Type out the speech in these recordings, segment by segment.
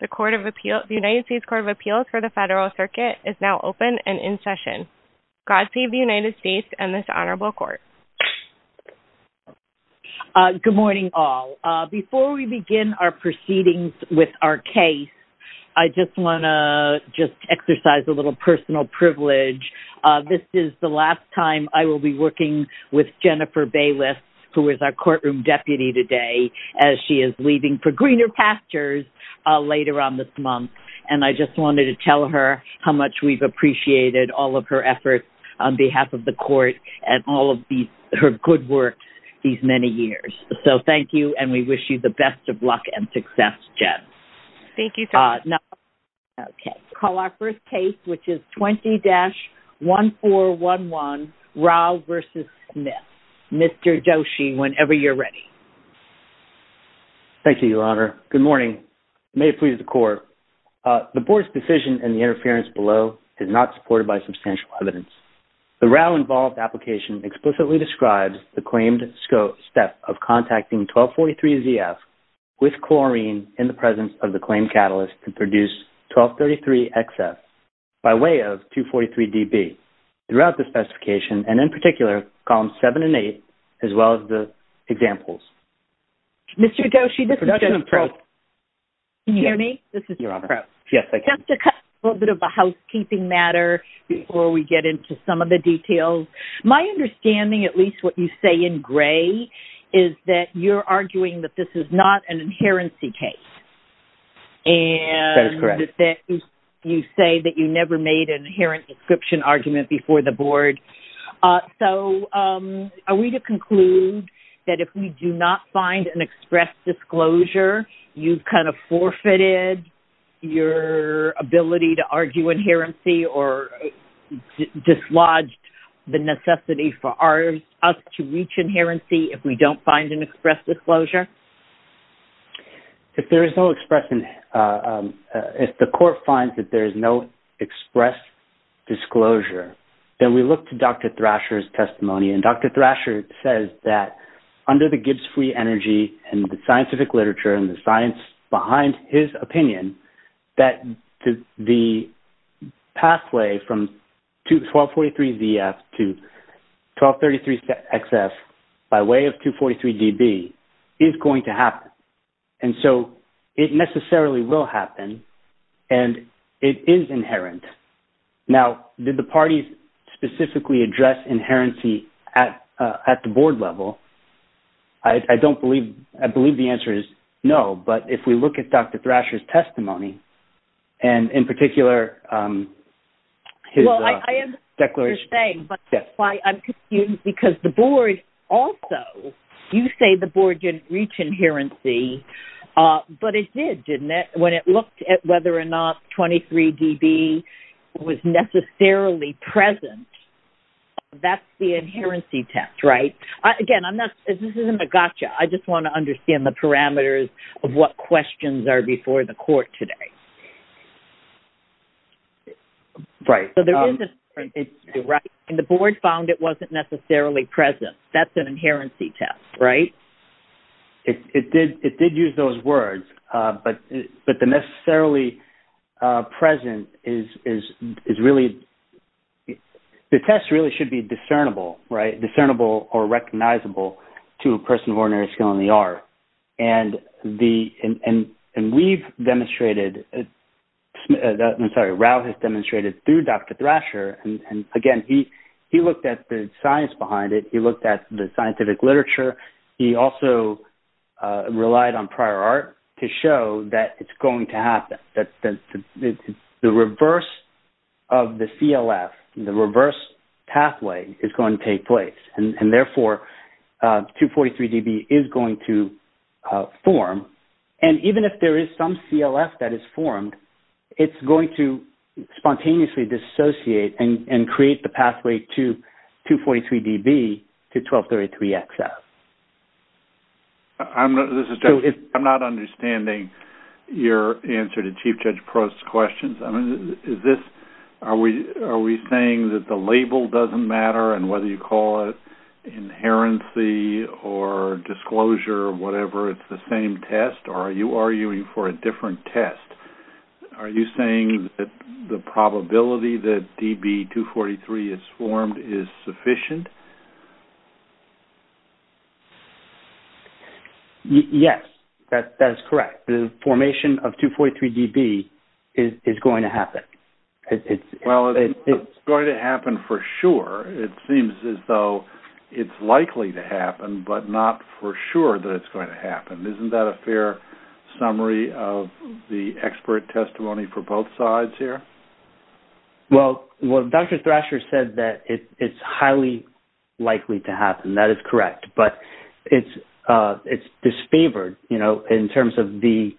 The United States Court of Appeals for the Federal Circuit is now open and in session. God save the United States and this Honorable Court. Good morning all. Before we begin our proceedings with our case, I just want to just exercise a little personal privilege. This is the last time I will be working with Jennifer Bayless, who is our courtroom deputy today, as she is leaving for greener pastures later on this month. And I just wanted to tell her how much we've appreciated all of her efforts on behalf of the court and all of her good work these many years. So thank you, and we wish you the best of luck and success, Jen. Thank you. Okay. We'll call our first case, which is 20-1411, Rao v. Smith. Mr. Doshi, whenever you're ready. Thank you, Your Honor. Good morning. May it please the Court. The Board's decision in the interference below is not supported by substantial evidence. The Rao-involved application explicitly describes the claimed step of contacting 1243-ZF with chlorine in the presence of the claimed catalyst to produce 1233-XF by way of 243-DB throughout the specification and, in particular, columns 7 and 8, as well as the examples. Mr. Doshi, this is Jennifer. Yes, Your Honor. Just a little bit of a housekeeping matter before we get into some of the details. My understanding, at least what you say in gray, is that you're arguing that this is not an inherency case. That is correct. And that you say that you never made an inherent description argument before the Board. So are we to conclude that if we do not find an express disclosure, you've kind of forfeited your ability to argue inherency or dislodged the necessity for us to reach inherency if we don't find an express disclosure? If there is no express – if the court finds that there is no express disclosure, then we look to Dr. Thrasher's testimony. And Dr. Thrasher says that under the Gibbs free energy and the scientific literature and the science behind his opinion, that the pathway from 1243ZF to 1233XF by way of 243DB is going to happen. And so it necessarily will happen, and it is inherent. Now, did the parties specifically address inherency at the Board level? I don't believe – I believe the answer is no, but if we look at Dr. Thrasher's testimony, and in particular his declaration – Well, I understand what you're saying, but that's why I'm confused, because the Board also – you say the Board didn't reach inherency, but it did, didn't it, when it looked at whether or not 23DB was necessarily present? That's the inherency test, right? Again, I'm not – this isn't a gotcha. I just want to understand the parameters of what questions are before the court today. Right. And the Board found it wasn't necessarily present. That's an inherency test, right? It did use those words, but the necessarily present is really – the test really should be discernible, right, discernible or recognizable to a person of ordinary skill in the art. And we've demonstrated – I'm sorry, Ralph has demonstrated through Dr. Thrasher, and again, he looked at the science behind it. He looked at the scientific literature. He also relied on prior art to show that it's going to happen, that the reverse of the CLF, the reverse pathway, is going to take place, and therefore 243DB is going to form. And even if there is some CLF that is formed, it's going to spontaneously dissociate and create the pathway to 243DB to 1233XF. I'm not – this is Jeff. I'm not understanding your answer to Chief Judge Prost's questions. I mean, is this – are we saying that the label doesn't matter, and whether you call it inherency or disclosure or whatever, it's the same test, or are you arguing for a different test? Are you saying that the probability that DB243 is formed is sufficient? Yes, that is correct. The formation of 243DB is going to happen. Well, it's going to happen for sure. It seems as though it's likely to happen, but not for sure that it's going to happen. Isn't that a fair summary of the expert testimony for both sides here? Well, Dr. Thrasher said that it's highly likely to happen. That is correct. But it's disfavored. You know, in terms of the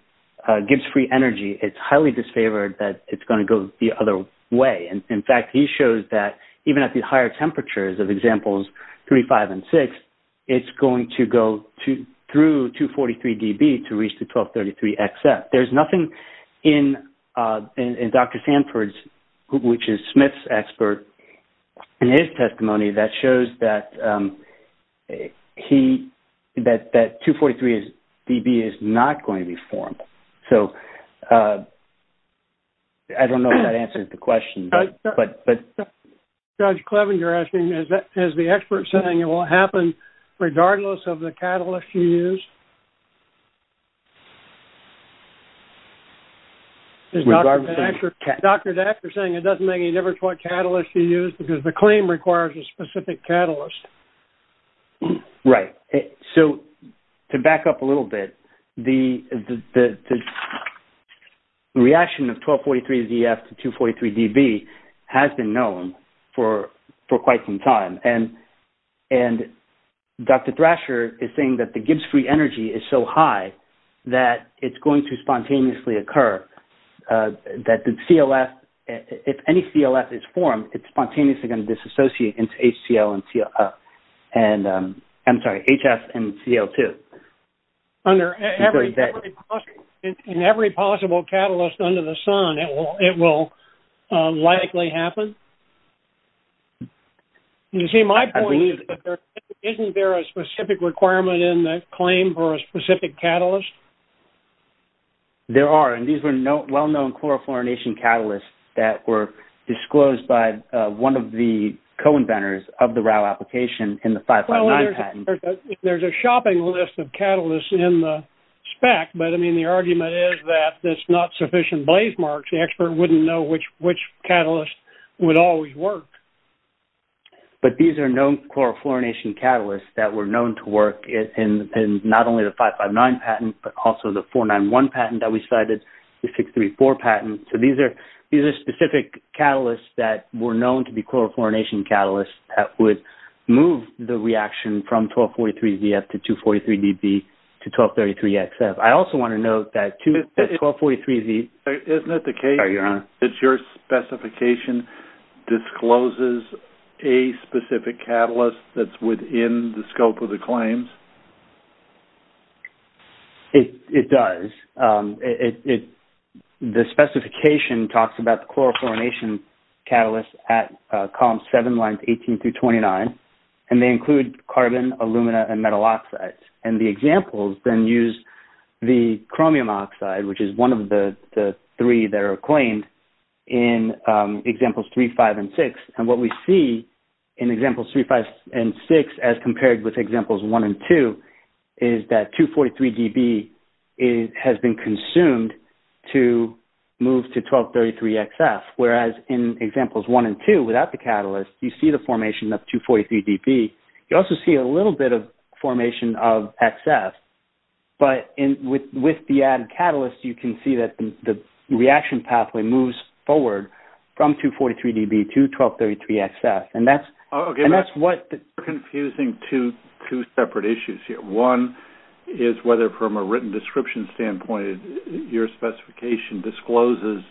Gibbs free energy, it's highly disfavored that it's going to go the other way. In fact, he shows that even at the higher temperatures of examples 3, 5, and 6, it's going to go through 243DB to reach the 1233XF. There's nothing in Dr. Sanford's, which is Smith's expert, in his testimony that shows that 243DB is not going to be formed. So, I don't know if that answers the question. Judge Kleven, you're asking, is the expert saying it won't happen regardless of the catalyst you use? Is Dr. Thrasher saying it doesn't make any difference what catalyst you use because the claim requires a specific catalyst? Right. So, to back up a little bit, the reaction of 1243XF to 243DB has been known for quite some time. And Dr. Thrasher is saying that the Gibbs free energy is so high that it's going to spontaneously occur. That the CLF, if any CLF is formed, it's spontaneously going to disassociate into HCL and, I'm sorry, HF and CO2. In every possible catalyst under the sun, it will likely happen? You see, my point is, isn't there a specific requirement in the claim for a specific catalyst? There are. And these were well-known chlorofluorination catalysts that were disclosed by one of the co-inventors of the RAU application in the 559 patent. Well, there's a shopping list of catalysts in the spec, but, I mean, the argument is that it's not sufficient blazemarks. The expert wouldn't know which catalyst would always work. But these are known chlorofluorination catalysts that were known to work in not only the 559 patent, but also the 491 patent that we cited, the 634 patent. So, these are specific catalysts that were known to be chlorofluorination catalysts that would move the reaction from 1243ZF to 243DB to 1233XF. I also want to note that 1243ZF... Isn't it the case that your specification discloses a specific catalyst that's within the scope of the claims? It does. The specification talks about the chlorofluorination catalysts at columns 7, lines 18 through 29, and they include carbon, alumina, and metal oxides. And the examples then use the chromium oxide, which is one of the three that are claimed in examples 3, 5, and 6. And what we see in examples 3, 5, and 6 as compared with examples 1 and 2 is that 243DB has been consumed to move to 1233XF. Whereas in examples 1 and 2, without the catalyst, you see the formation of 243DB. You also see a little bit of formation of XF. But with the added catalyst, you can see that the reaction pathway moves forward from 243DB to 1233XF. And that's what... You're confusing two separate issues here. One is whether, from a written description standpoint, your specification discloses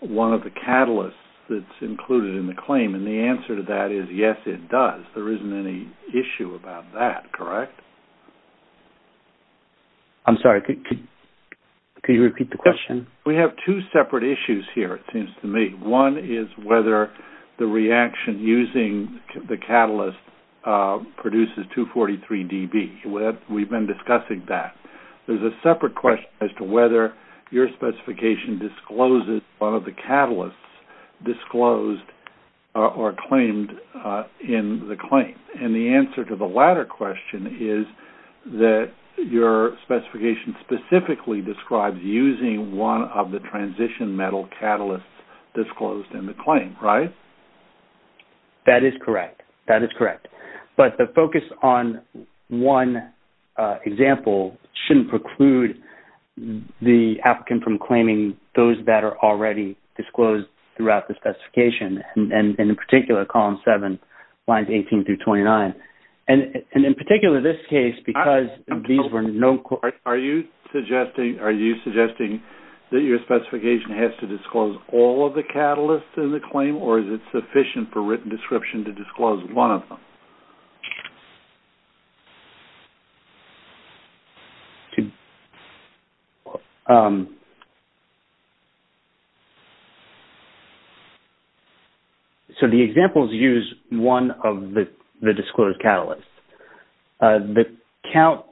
one of the catalysts that's included in the claim. And the answer to that is, yes, it does. There isn't any issue about that, correct? I'm sorry. Could you repeat the question? We have two separate issues here, it seems to me. One is whether the reaction using the catalyst produces 243DB. We've been discussing that. There's a separate question as to whether your specification discloses one of the catalysts disclosed or claimed in the claim. And the answer to the latter question is that your specification specifically describes using one of the transition metal catalysts disclosed in the claim, right? That is correct. That is correct. But the focus on one example shouldn't preclude the applicant from claiming those that are already disclosed throughout the specification. And in particular, column 7, lines 18 through 29. And in particular, this case, because these were no... Are you suggesting that your specification has to disclose all of the catalysts in the claim? Or is it sufficient for written description to disclose one of them? So the examples use one of the disclosed catalysts. The count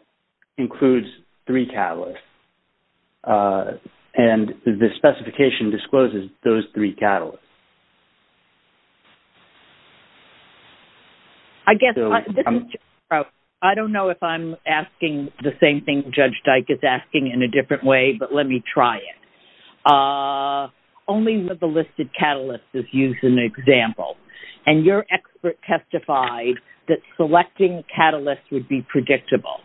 includes three catalysts. And the specification discloses those three catalysts. I guess... I don't know if I'm asking the same thing Judge Dyke is asking in a different way, but let me try it. Only one of the listed catalysts is used in the example. And your expert testified that selecting catalysts would be predictable.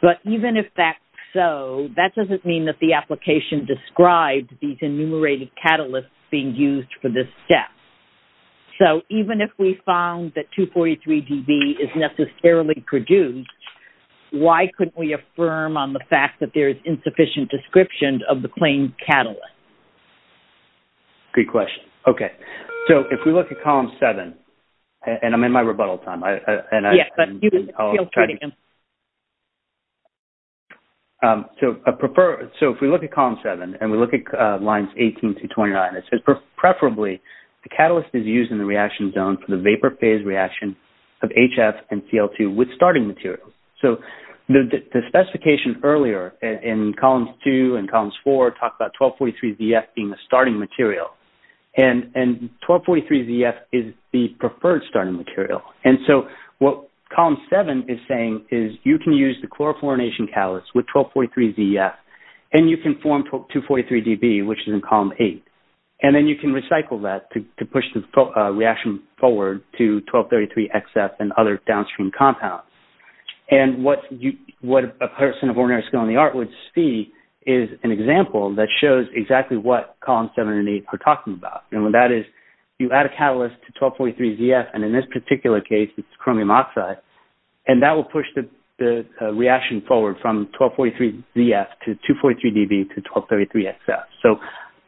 But even if that's so, that doesn't mean that the application describes these enumerated catalysts being used for this step. So even if we found that 243dB is necessarily produced, why couldn't we affirm on the fact that there is insufficient description of the claimed catalyst? Good question. Okay. So if we look at column 7, and I'm in my rebuttal time, and I... Yes, but you can feel free to answer. So if we look at column 7, and we look at lines 18 through 29, it says, Preferably, the catalyst is used in the reaction zone for the vapor phase reaction of HF and Cl2 with starting materials. So the specification earlier in columns 2 and columns 4 talked about 1243zF being the starting material. And 1243zF is the preferred starting material. And so what column 7 is saying is you can use the chlorofluorination catalyst with 1243zF, and you can form 243dB, which is in column 8. And then you can recycle that to push the reaction forward to 1233xF and other downstream compounds. And what a person of ordinary skill in the art would see is an example that shows exactly what columns 7 and 8 are talking about. And that is, you add a catalyst to 1243zF, and in this particular case, it's chromium oxide, and that will push the reaction forward from 1243zF to 243dB to 1233xF. So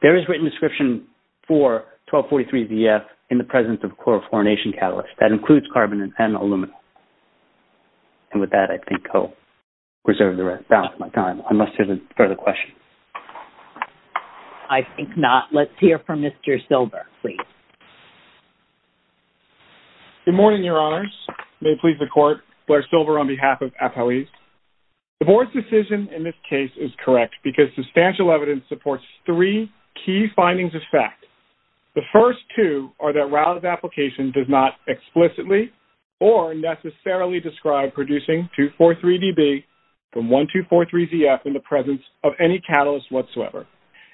there is written description for 1243zF in the presence of chlorofluorination catalyst. That includes carbon and aluminum. And with that, I think I'll reserve the rest of my time unless there's further questions. I think not. Let's hear from Mr. Silber, please. Good morning, Your Honors. May it please the Court, Blair Silber on behalf of APOE. The Board's decision in this case is correct because substantial evidence supports three key findings of fact. The first two are that Rouse's application does not explicitly or necessarily describe producing 243dB from 1243zF in the presence of any catalyst whatsoever.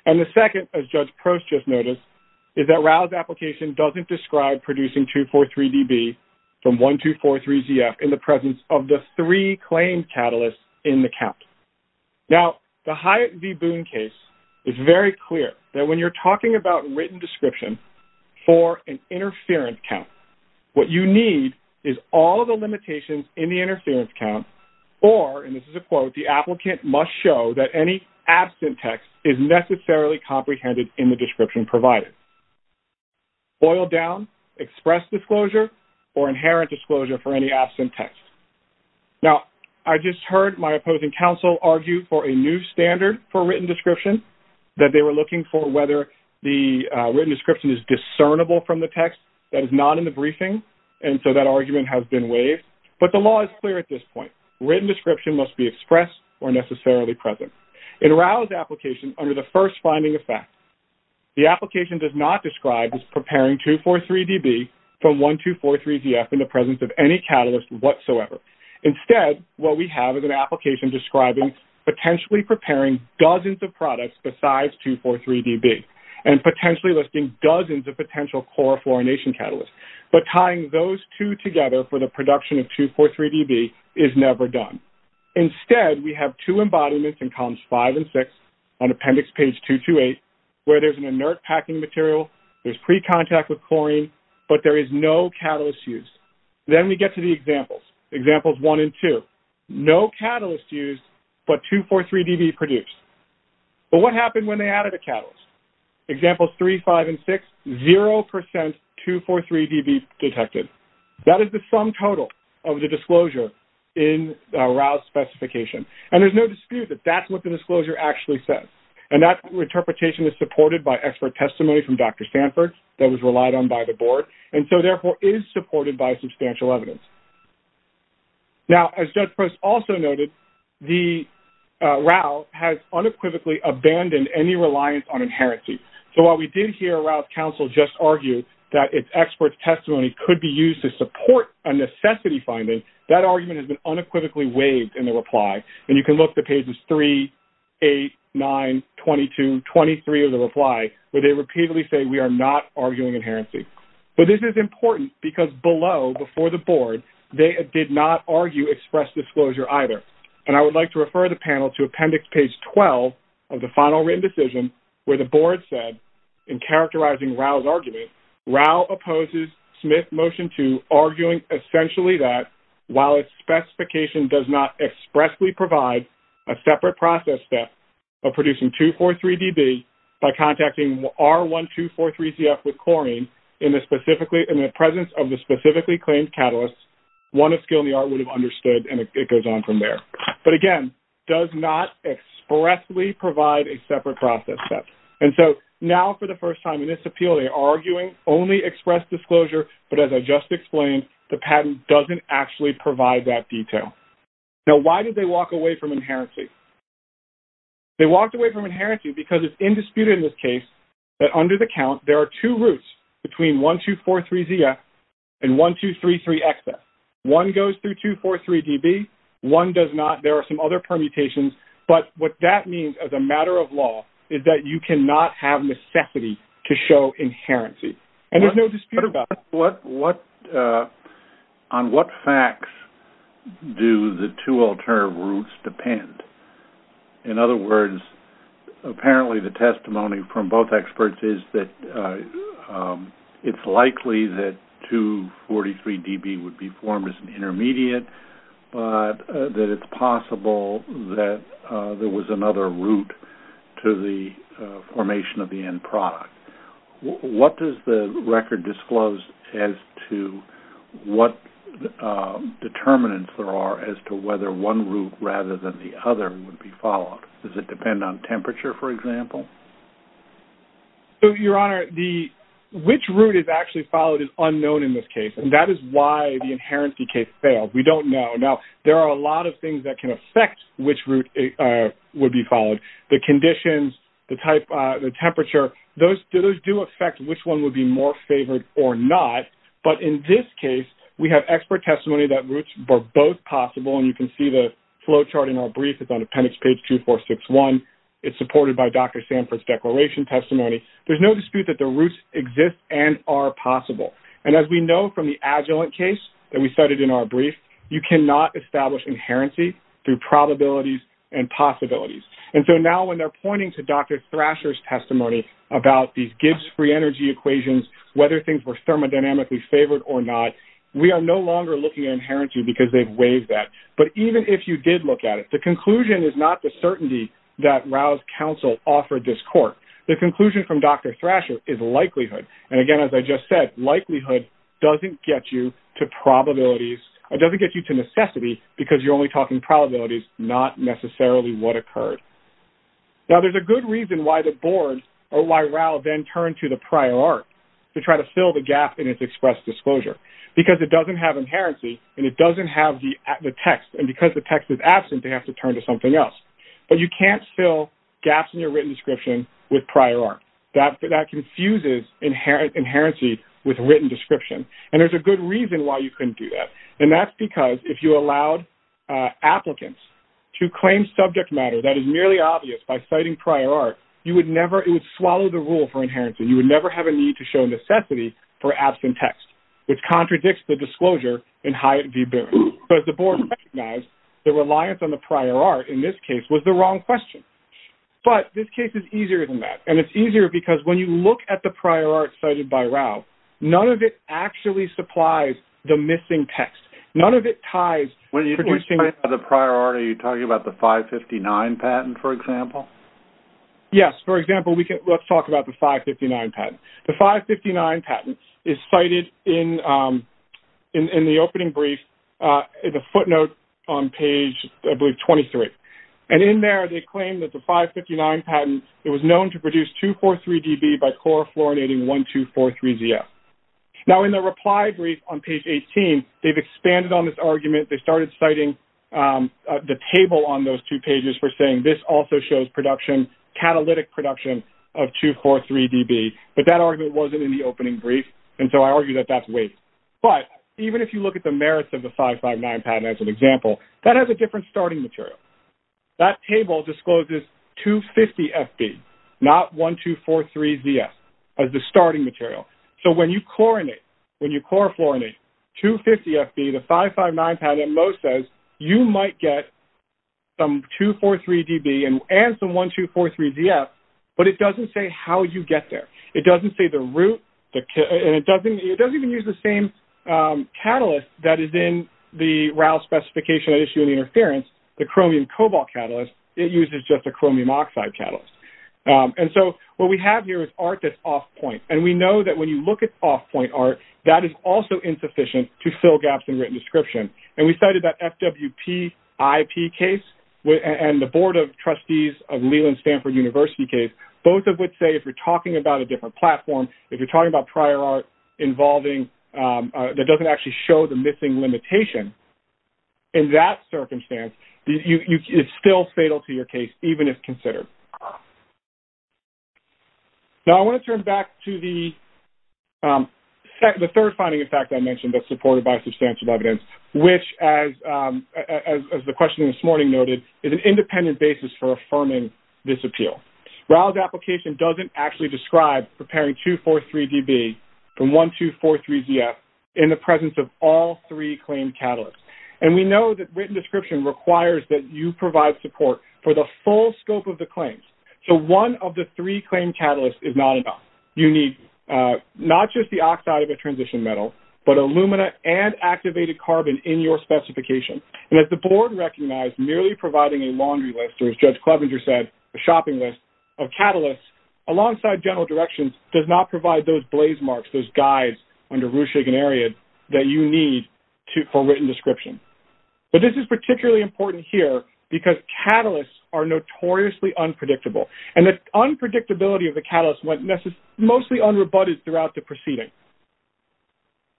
And the second, as Judge Prost just noticed, is that Rouse's application doesn't describe producing 243dB from 1243zF in the presence of the three claimed catalysts in the count. Now, the Hyatt v. Boone case is very clear that when you're talking about written description for an interference count, what you need is all of the limitations in the interference count or, and this is a quote, the applicant must show that any absent text is necessarily comprehended in the description provided. Boiled down, express disclosure, or inherent disclosure for any absent text. Now, I just heard my opposing counsel argue for a new standard for written description that they were looking for whether the written description is discernible from the text that is not in the briefing, and so that argument has been waived. But the law is clear at this point. Written description must be expressed or necessarily present. In Rouse's application, under the first finding of fact, the application does not describe as preparing 243dB from 1243zF in the presence of any catalyst whatsoever. Instead, what we have is an application describing potentially preparing dozens of products besides 243dB and potentially listing dozens of potential chlorofluorination catalysts. But tying those two together for the production of 243dB is never done. Instead, we have two embodiments in columns 5 and 6 on appendix page 228 where there's an inert packing material, there's pre-contact with chlorine, but there is no catalyst used. Then we get to the examples, examples 1 and 2. No catalyst used, but 243dB produced. But what happened when they added a catalyst? Examples 3, 5, and 6, 0% 243dB detected. That is the sum total of the disclosure in Rouse's specification. And there's no dispute that that's what the disclosure actually says. And that interpretation is supported by expert testimony from Dr. Sanford that was relied on by the board and so therefore is supported by substantial evidence. Now, as Judge Post also noted, Rouse has unequivocally abandoned any reliance on inherency. So while we did hear Rouse Council just argue that its expert testimony could be used to support a necessity finding, that argument has been unequivocally waived in the reply. And you can look at pages 3, 8, 9, 22, 23 of the reply where they repeatedly say we are not arguing inherency. But this is important because below, before the board, they did not argue express disclosure either. And I would like to refer the panel to appendix page 12 of the final written decision where the board said in characterizing Rouse's argument, Rouse opposes Smith Motion 2 arguing essentially that while its specification does not expressly provide a separate process step of producing 243dB by contacting R1243CF with Corine in the presence of the specifically claimed catalyst, one of skill in the art would have understood, and it goes on from there. But again, does not expressly provide a separate process step. And so now for the first time in this appeal, they are arguing only express disclosure, but as I just explained, the patent doesn't actually provide that detail. Now why did they walk away from inherency? They walked away from inherency because it's indisputed in this case that under the count, there are two routes between 1243CF and 1233XF. One goes through 243dB. One does not. There are some other permutations. But what that means as a matter of law is that you cannot have necessity to show inherency. And there's no dispute about that. On what facts do the two alternative routes depend? In other words, apparently the testimony from both experts is that it's likely that 243dB would be formed as an intermediate, but that it's possible that there was another route to the formation of the end product. What does the record disclose as to what determinants there are as to whether one route rather than the other would be followed? Does it depend on temperature, for example? So, Your Honor, which route is actually followed is unknown in this case, and that is why the inherency case failed. We don't know. Now there are a lot of things that can affect which route would be followed. The conditions, the temperature, those do affect which one would be more favored or not. But in this case, we have expert testimony that routes were both possible, and you can see the flowchart in our brief. It's on appendix page 2461. It's supported by Dr. Sanford's declaration testimony. There's no dispute that the routes exist and are possible. And as we know from the Agilent case that we cited in our brief, you cannot establish inherency through probabilities and possibilities. And so now when they're pointing to Dr. Thrasher's testimony about these Gibbs free energy equations, whether things were thermodynamically favored or not, we are no longer looking at inherency because they've waived that. But even if you did look at it, the conclusion is not the certainty that Rouse counsel offered this court. The conclusion from Dr. Thrasher is likelihood. And, again, as I just said, likelihood doesn't get you to necessities because you're only talking probabilities, not necessarily what occurred. Now there's a good reason why the board, or why Rouse, then turned to the prior art to try to fill the gap in its express disclosure, because it doesn't have inherency and it doesn't have the text. And because the text is absent, they have to turn to something else. But you can't fill gaps in your written description with prior art. That confuses inherency with written description. And there's a good reason why you couldn't do that, and that's because if you allowed applicants to claim subject matter that is merely obvious by citing prior art, you would never – it would swallow the rule for inherency. You would never have a need to show necessity for absent text, which contradicts the disclosure in Hyatt v. Boone. So as the board recognized, the reliance on the prior art in this case was the wrong question. But this case is easier than that, and it's easier because when you look at the prior art cited by Rouse, none of it actually supplies the missing text. None of it ties. When you say the prior art, are you talking about the 559 patent, for example? Yes. For example, let's talk about the 559 patent. The 559 patent is cited in the opening brief, the footnote on page, I believe, 23. And in there they claim that the 559 patent, it was known to produce 243dB by chlorofluoridating 1243ZF. Now in the reply brief on page 18, they've expanded on this argument. They started citing the table on those two pages for saying this also shows production, catalytic production of 243dB. But that argument wasn't in the opening brief, and so I argue that that's waste. But even if you look at the merits of the 559 patent as an example, that has a different starting material. That table discloses 250FB, not 1243ZF as the starting material. So when you chlorinate, when you chlorofluorinate 250FB, the 559 patent most says you might get some 243dB and some 1243ZF, but it doesn't say how you get there. It doesn't say the route, and it doesn't even use the same catalyst that is in the RAL specification at issue in interference, the chromium cobalt catalyst. It uses just a chromium oxide catalyst. And so what we have here is art that's off point, and we know that when you look at off point art, that is also insufficient to fill gaps in written description. And we cited that FWP IP case and the Board of Trustees of Leland Stanford University case. Both of which say if you're talking about a different platform, if you're talking about prior art involving that doesn't actually show the missing limitation in that circumstance, it's still fatal to your case, even if considered. Now I want to turn back to the third finding, in fact, I mentioned that's supported by substantial evidence, which as the question this morning noted, is an independent basis for affirming this appeal. RAL's application doesn't actually describe preparing 243dB and 1243ZF in the presence of all three claimed catalysts. And we know that written description requires that you provide support for the full scope of the claims. So one of the three claimed catalysts is not enough. You need not just the oxide of a transition metal, but alumina and activated carbon in your specification. And as the Board recognized, merely providing a laundry list, or as Judge Clevenger said, a shopping list of catalysts, alongside general directions does not provide those blaze marks, those guides under Ruchig and Ariad that you need for written description. But this is particularly important here because catalysts are notoriously unpredictable. And the unpredictability of the catalyst went mostly unrebutted throughout the proceeding.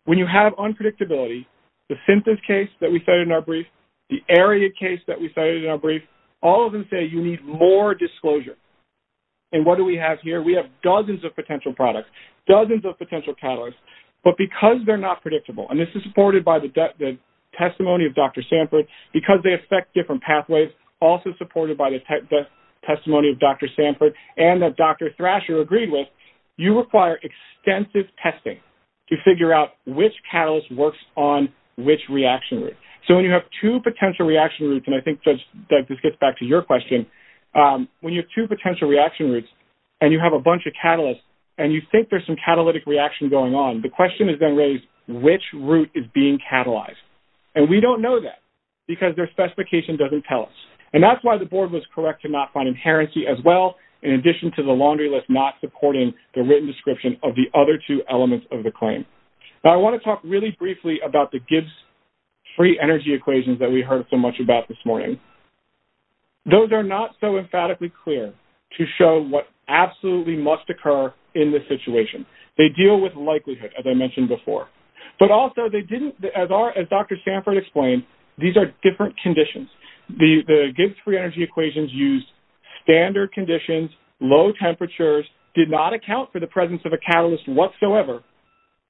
When you have unpredictability, the Synthase case that we cited in our brief, the Ariad case that we cited in our brief, all of them say you need more disclosure. And what do we have here? We have dozens of potential products, dozens of potential catalysts, but because they're not predictable, and this is supported by the testimony of Dr. Sanford, because they affect different pathways, also supported by the testimony of Dr. Sanford and that Dr. Thrasher agreed with, you require extensive testing to figure out which catalyst works on which reaction route. So when you have two potential reaction routes, and I think, Judge, this gets back to your question, when you have two potential reaction routes and you have a bunch of catalysts and you think there's some catalytic reaction going on, the question is then raised, which route is being catalyzed? And we don't know that because their specification doesn't tell us. And that's why the board was correct to not find inherency as well, in addition to the laundry list not supporting the written description of the other two elements of the claim. Now I want to talk really briefly about the Gibbs free energy equations that we heard so much about this morning. Those are not so emphatically clear to show what absolutely must occur in this situation. They deal with likelihood, as I mentioned before. But also they didn't, as Dr. Sanford explained, these are different conditions. The Gibbs free energy equations used standard conditions, low temperatures, did not account for the presence of a catalyst whatsoever,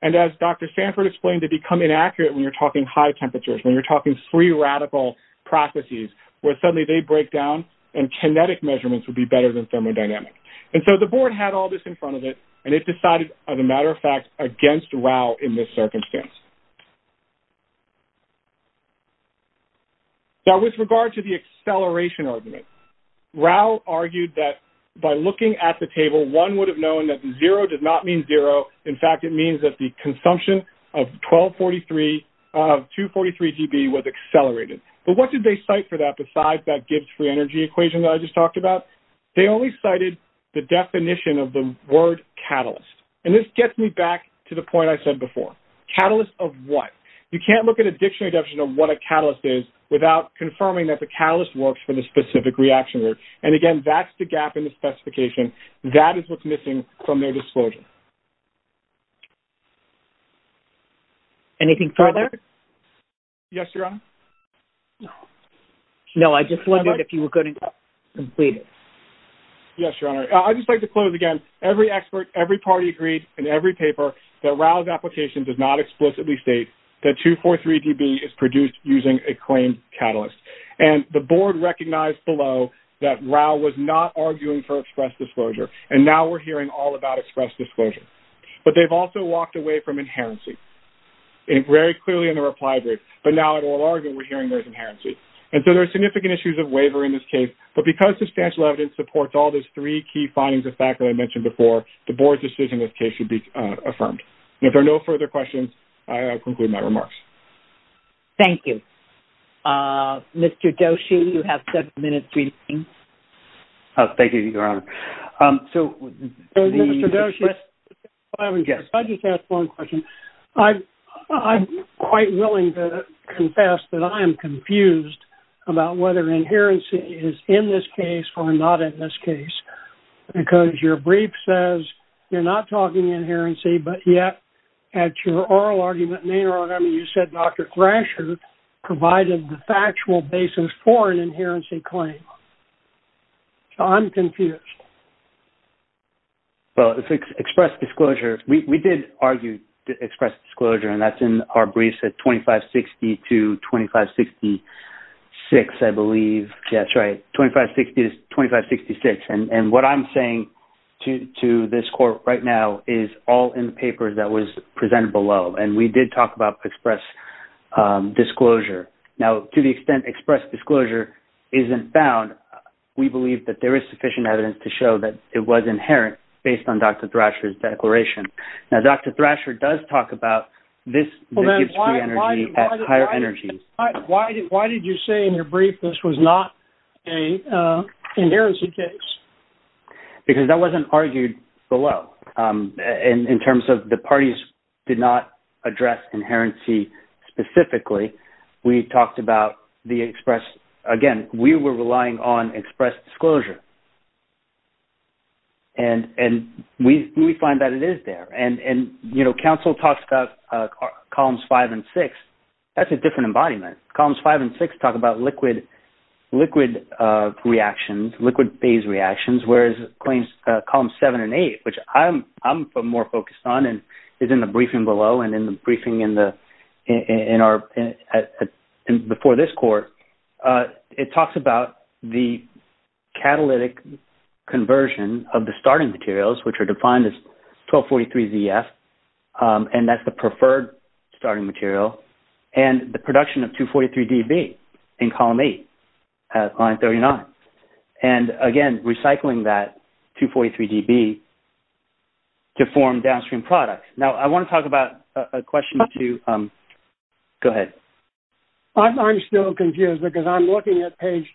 and as Dr. Sanford explained, they become inaccurate when you're talking high temperatures, when you're talking free radical processes, where suddenly they break down and kinetic measurements would be better than thermodynamic. And so the board had all this in front of it and it decided, as a matter of fact, against Rao in this circumstance. Now with regard to the acceleration argument, Rao argued that by looking at the table, one would have known that zero does not mean zero. In fact, it means that the consumption of 243 GB was accelerated. But what did they cite for that besides that Gibbs free energy equation that I just talked about? They only cited the definition of the word catalyst. And this gets me back to the point I said before. Catalyst of what? You can't look at a dictionary definition of what a catalyst is without confirming that the catalyst works for the specific reaction. And again, that's the gap in the specification. That is what's missing from their disclosure. Okay. Anything further? Yes, Your Honor. No, I just wondered if you were going to complete it. Yes, Your Honor. I'd just like to close again. Every expert, every party agreed in every paper that Rao's application does not explicitly state that 243 GB is produced using a claimed catalyst. And the board recognized below that Rao was not arguing for express disclosure. And now we're hearing all about express disclosure. But they've also walked away from inherency very clearly in the reply brief. But now it will argue we're hearing there's inherency. And so there are significant issues of waiver in this case. But because substantial evidence supports all those three key findings of fact that I mentioned before, the board's decision in this case should be affirmed. And if there are no further questions, I conclude my remarks. Thank you. Mr. Doshi, you have seven minutes remaining. Thank you, Your Honor. Mr. Doshi, I just have one question. I'm quite willing to confess that I am confused about whether inherency is in this case or not in this case. Because your brief says you're not talking inherency, but yet at your oral argument, you said Dr. Thrasher provided the factual basis for an inherency claim. So I'm confused. Well, it's express disclosure. We did argue express disclosure. And that's in our briefs at 2560 to 2566, I believe. Yeah, that's right. 2560 to 2566. And what I'm saying to this court right now is all in the paper that was presented below. And we did talk about express disclosure. Now, to the extent express disclosure isn't found, we believe that there is sufficient evidence to show that it was inherent based on Dr. Thrasher's declaration. Now, Dr. Thrasher does talk about this Gibbs free energy at higher energy. Why did you say in your brief this was not an inherency case? Because that wasn't argued below. In terms of the parties did not address inherency specifically, we talked about the express. Again, we were relying on express disclosure. And we find that it is there. And, you know, counsel talks about columns five and six. That's a different embodiment. Columns five and six talk about liquid reactions, liquid phase reactions, whereas columns seven and eight, which I'm more focused on and is in the briefing below and in the briefing before this court, it talks about the catalytic conversion of the starting materials, which are defined as 1243ZF, and that's the preferred starting material, and the production of 243DB in column eight at line 39. And, again, recycling that 243DB to form downstream products. Now, I want to talk about a question or two. Go ahead. I'm still confused because I'm looking at appendix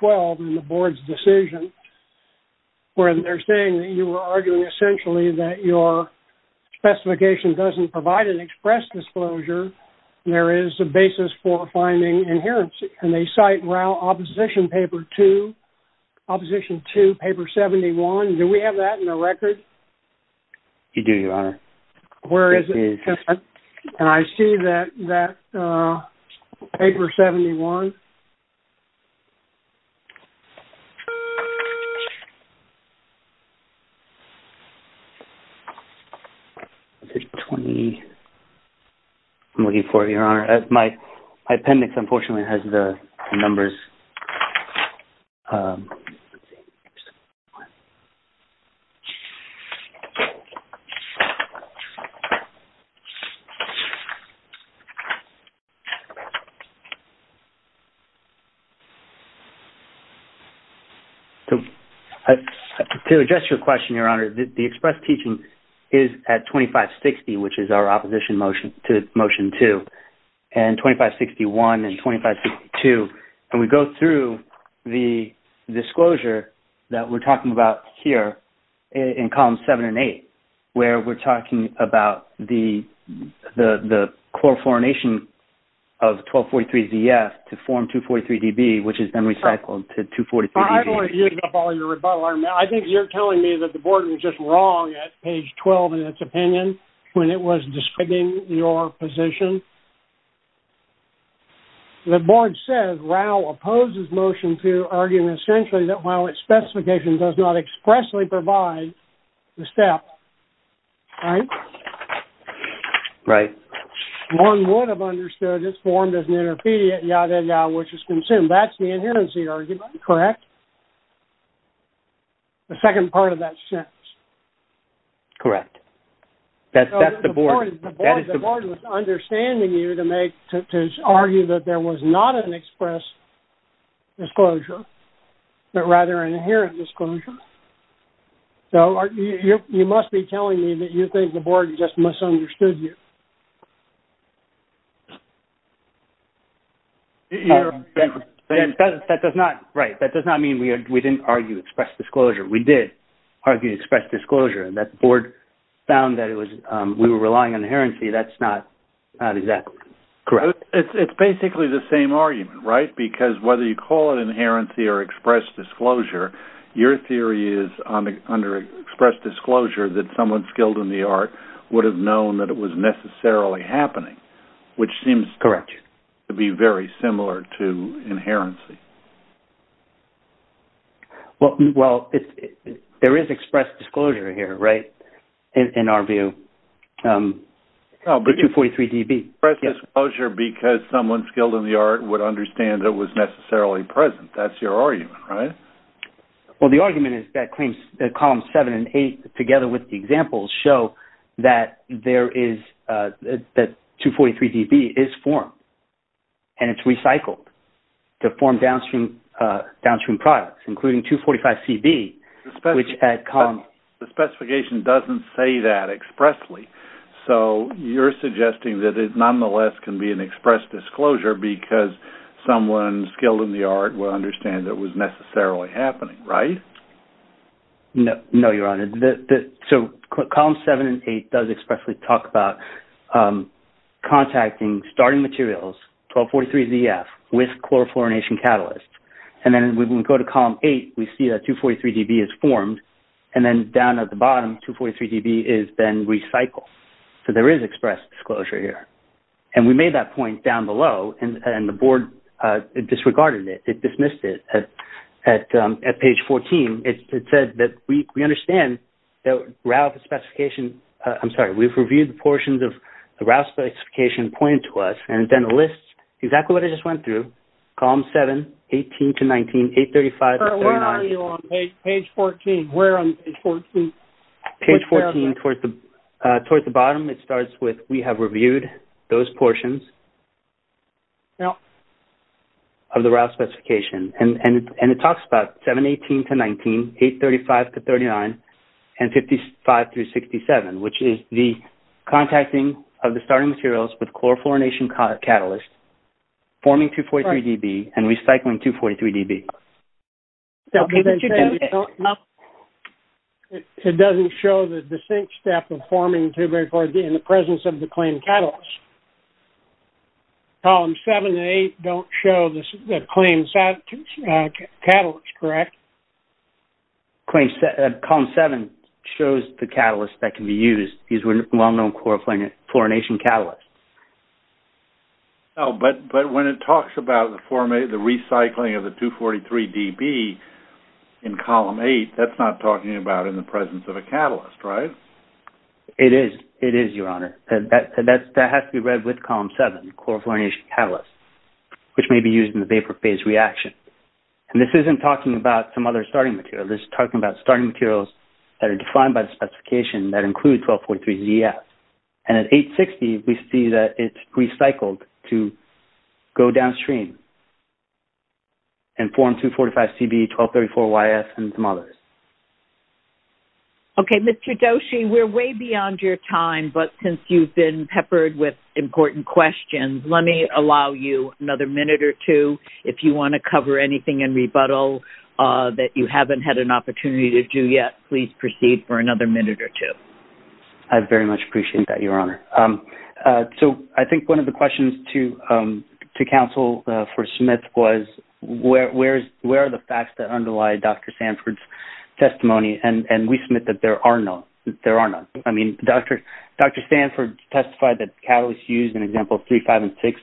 12 in the board's decision where they're saying that you were arguing essentially that your specification doesn't provide an express disclosure. There is a basis for finding inherency. And they cite row opposition paper two, opposition two, paper 71. Do we have that in the record? You do, Your Honor. Where is it? And I see that paper 71. I'm looking for it, Your Honor. My appendix, unfortunately, has the numbers. To address your question, Your Honor, the express teaching is at 2560, which is our opposition motion to motion two, and 2561 and 2562. And we go through the disclosure that we're talking about here in column seven and eight where we're talking about the chlorofluorination of 1243ZF to form 243DB, which is then recycled to 243DB. I don't want to use up all your rebuttal. I think you're telling me that the board was just wrong at page 12 in its opinion when it was describing your position? The board says Rao opposes motion two, arguing essentially that while its specification does not expressly provide the steps, right? Right. One would have understood it's formed as an intermediate, ya de ya, which is consumed. That's the inherency argument, correct? The second part of that sentence. Correct. That's the board. The board was understanding you to make, to argue that there was not an express disclosure, but rather an inherent disclosure. So you must be telling me that you think the board just misunderstood you. That does not, right, that does not mean we didn't argue express disclosure. We did argue express disclosure, and that board found that we were relying on inherency. That's not exactly correct. It's basically the same argument, right? Because whether you call it inherency or express disclosure, your theory is under express disclosure that someone skilled in the art would have known that it was necessarily happening, which seems to be very similar to inherency. Well, there is express disclosure here, right, in our view, the 243 DB. Express disclosure because someone skilled in the art would understand it was necessarily present. That's your argument, right? Well, the argument is that claims, columns 7 and 8 together with the examples show that there is, that 243 DB is formed, and it's recycled. To form downstream products, including 245 CB. The specification doesn't say that expressly, so you're suggesting that it nonetheless can be an express disclosure because someone skilled in the art would understand it was necessarily happening, right? No, Your Honor. So columns 7 and 8 does expressly talk about contacting starting materials, 1243 ZF, with chlorofluorination catalysts. And then when we go to column 8, we see that 243 DB is formed. And then down at the bottom, 243 DB is then recycled. So there is express disclosure here. And we made that point down below, and the Board disregarded it. It dismissed it. At page 14, it said that we understand that RALF specification, I'm sorry, we've reviewed the portions of the RALF specification pointed to us, and then lists exactly what I just went through. Columns 7, 18 to 19, 835 to 39. Where are you on page 14? Where on page 14? Page 14, towards the bottom, it starts with, we have reviewed those portions of the RALF specification. And it talks about 718 to 19, 835 to 39, and 55 through 67, which is the contacting of the starting materials with chlorofluorination catalysts forming 243 DB and recycling 243 DB. It doesn't show the distinct step of forming 243 DB in the presence of the claimed catalyst. Columns 7 and 8 don't show the claimed catalyst, correct? Columns 7 shows the catalyst that can be used. These were well-known chlorofluorination catalysts. But when it talks about the recycling of the 243 DB in column 8, that's not talking about in the presence of a catalyst, right? It is. It is, Your Honor. That has to be read with column 7, chlorofluorination catalysts, which may be used in the vapor phase reaction. And this isn't talking about some other starting material. This is talking about starting materials that are defined by the specification that include 1243 ZF. And at 860, we see that it's recycled to go downstream and form 245 CB, 1234 YF, and some others. Okay, Mr. Doshi, we're way beyond your time, but since you've been peppered with important questions, let me allow you another minute or two. If you want to cover anything in rebuttal that you haven't had an opportunity to do yet, please proceed for another minute or two. I very much appreciate that, Your Honor. So I think one of the questions to counsel for Smith was, where are the facts that underlie Dr. Sanford's testimony? And we submit that there are none. I mean, Dr. Sanford testified that catalysts used in examples 3, 5, and 6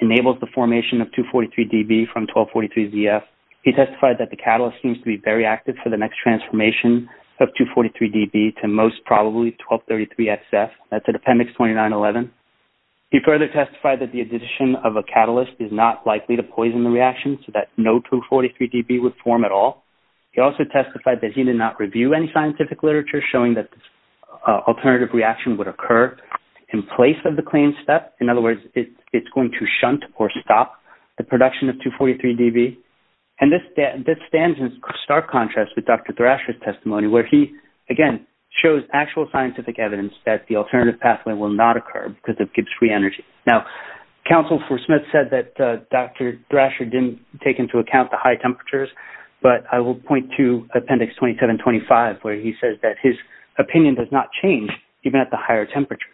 enabled the formation of 243 DB from 1243 ZF. He testified that the catalyst seems to be very active for the next transformation of 243 DB to most probably 1233 SF. That's at Appendix 2911. He further testified that the addition of a catalyst is not likely to poison the reaction so that no 243 DB would form at all. He also testified that he did not review any scientific literature showing that this alternative reaction would occur in place of the clean step. In other words, it's going to shunt or stop the production of 243 DB. And this stands in stark contrast with Dr. Thrasher's testimony, where he, again, shows actual scientific evidence that the alternative pathway will not occur because of Gibbs free energy. Now, counsel for Smith said that Dr. Thrasher didn't take into account the high temperatures, but I will point to Appendix 2725 where he says that his opinion does not change even at the higher temperatures.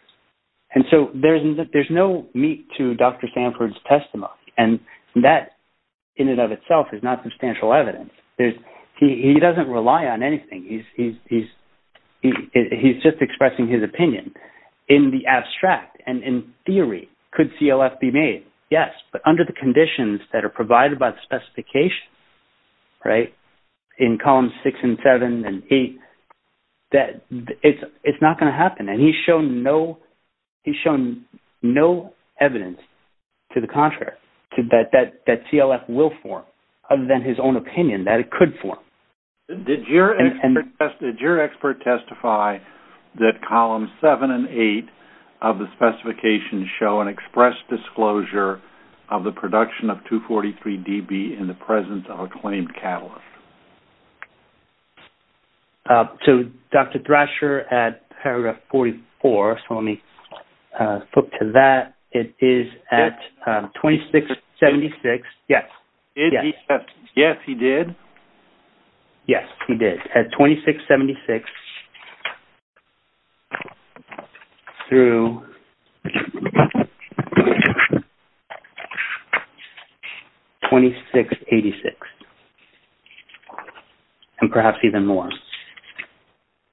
And so there's no meat to Dr. Sanford's testimony, and that in and of itself is not substantial evidence. He doesn't rely on anything. He's just expressing his opinion. In the abstract and in theory, could CLF be made? Yes, but under the conditions that are provided by the specifications, right, in Columns 6 and 7 and 8, it's not going to happen. And he's shown no evidence to the contrary that CLF will form, other than his own opinion that it could form. Did your expert testify that Columns 7 and 8 of the specifications show an express disclosure of the production of 243dB in the presence of a claimed catalyst? So Dr. Thrasher at paragraph 44, so let me flip to that. It is at 2676. Yes. Yes, he did. Yes, he did. At 2676 through 2686, and perhaps even more.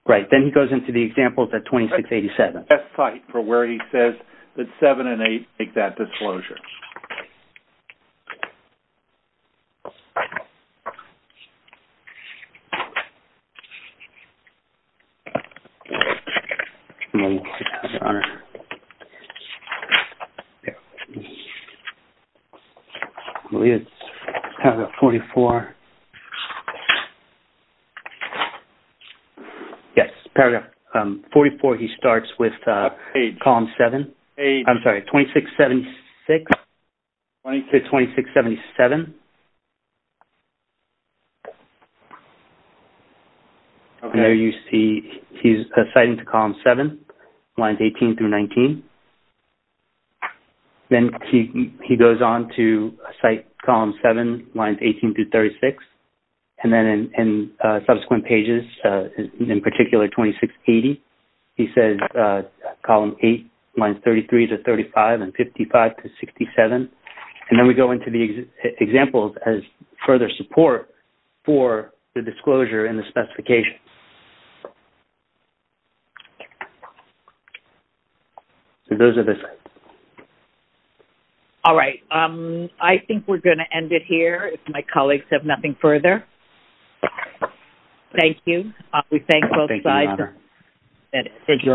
Right, then he goes into the examples at 2687. That's the best site for where he says that 7 and 8 make that disclosure. Paragraph 44. Yes, paragraph 44, he starts with Columns 7. I'm sorry, 2676 to 2677. And there you see he's citing to Columns 7, lines 18 through 19. Then he goes on to cite Columns 7, lines 18 through 36. And then in subsequent pages, in particular 2680, he says Columns 8, lines 33 to 35, and 55 to 67. And then we go into the examples as further support for the disclosure and the specifications. So those are the slides. All right. I think we're going to end it here if my colleagues have nothing further. We thank both sides. That is it. Thank you, Your Honor.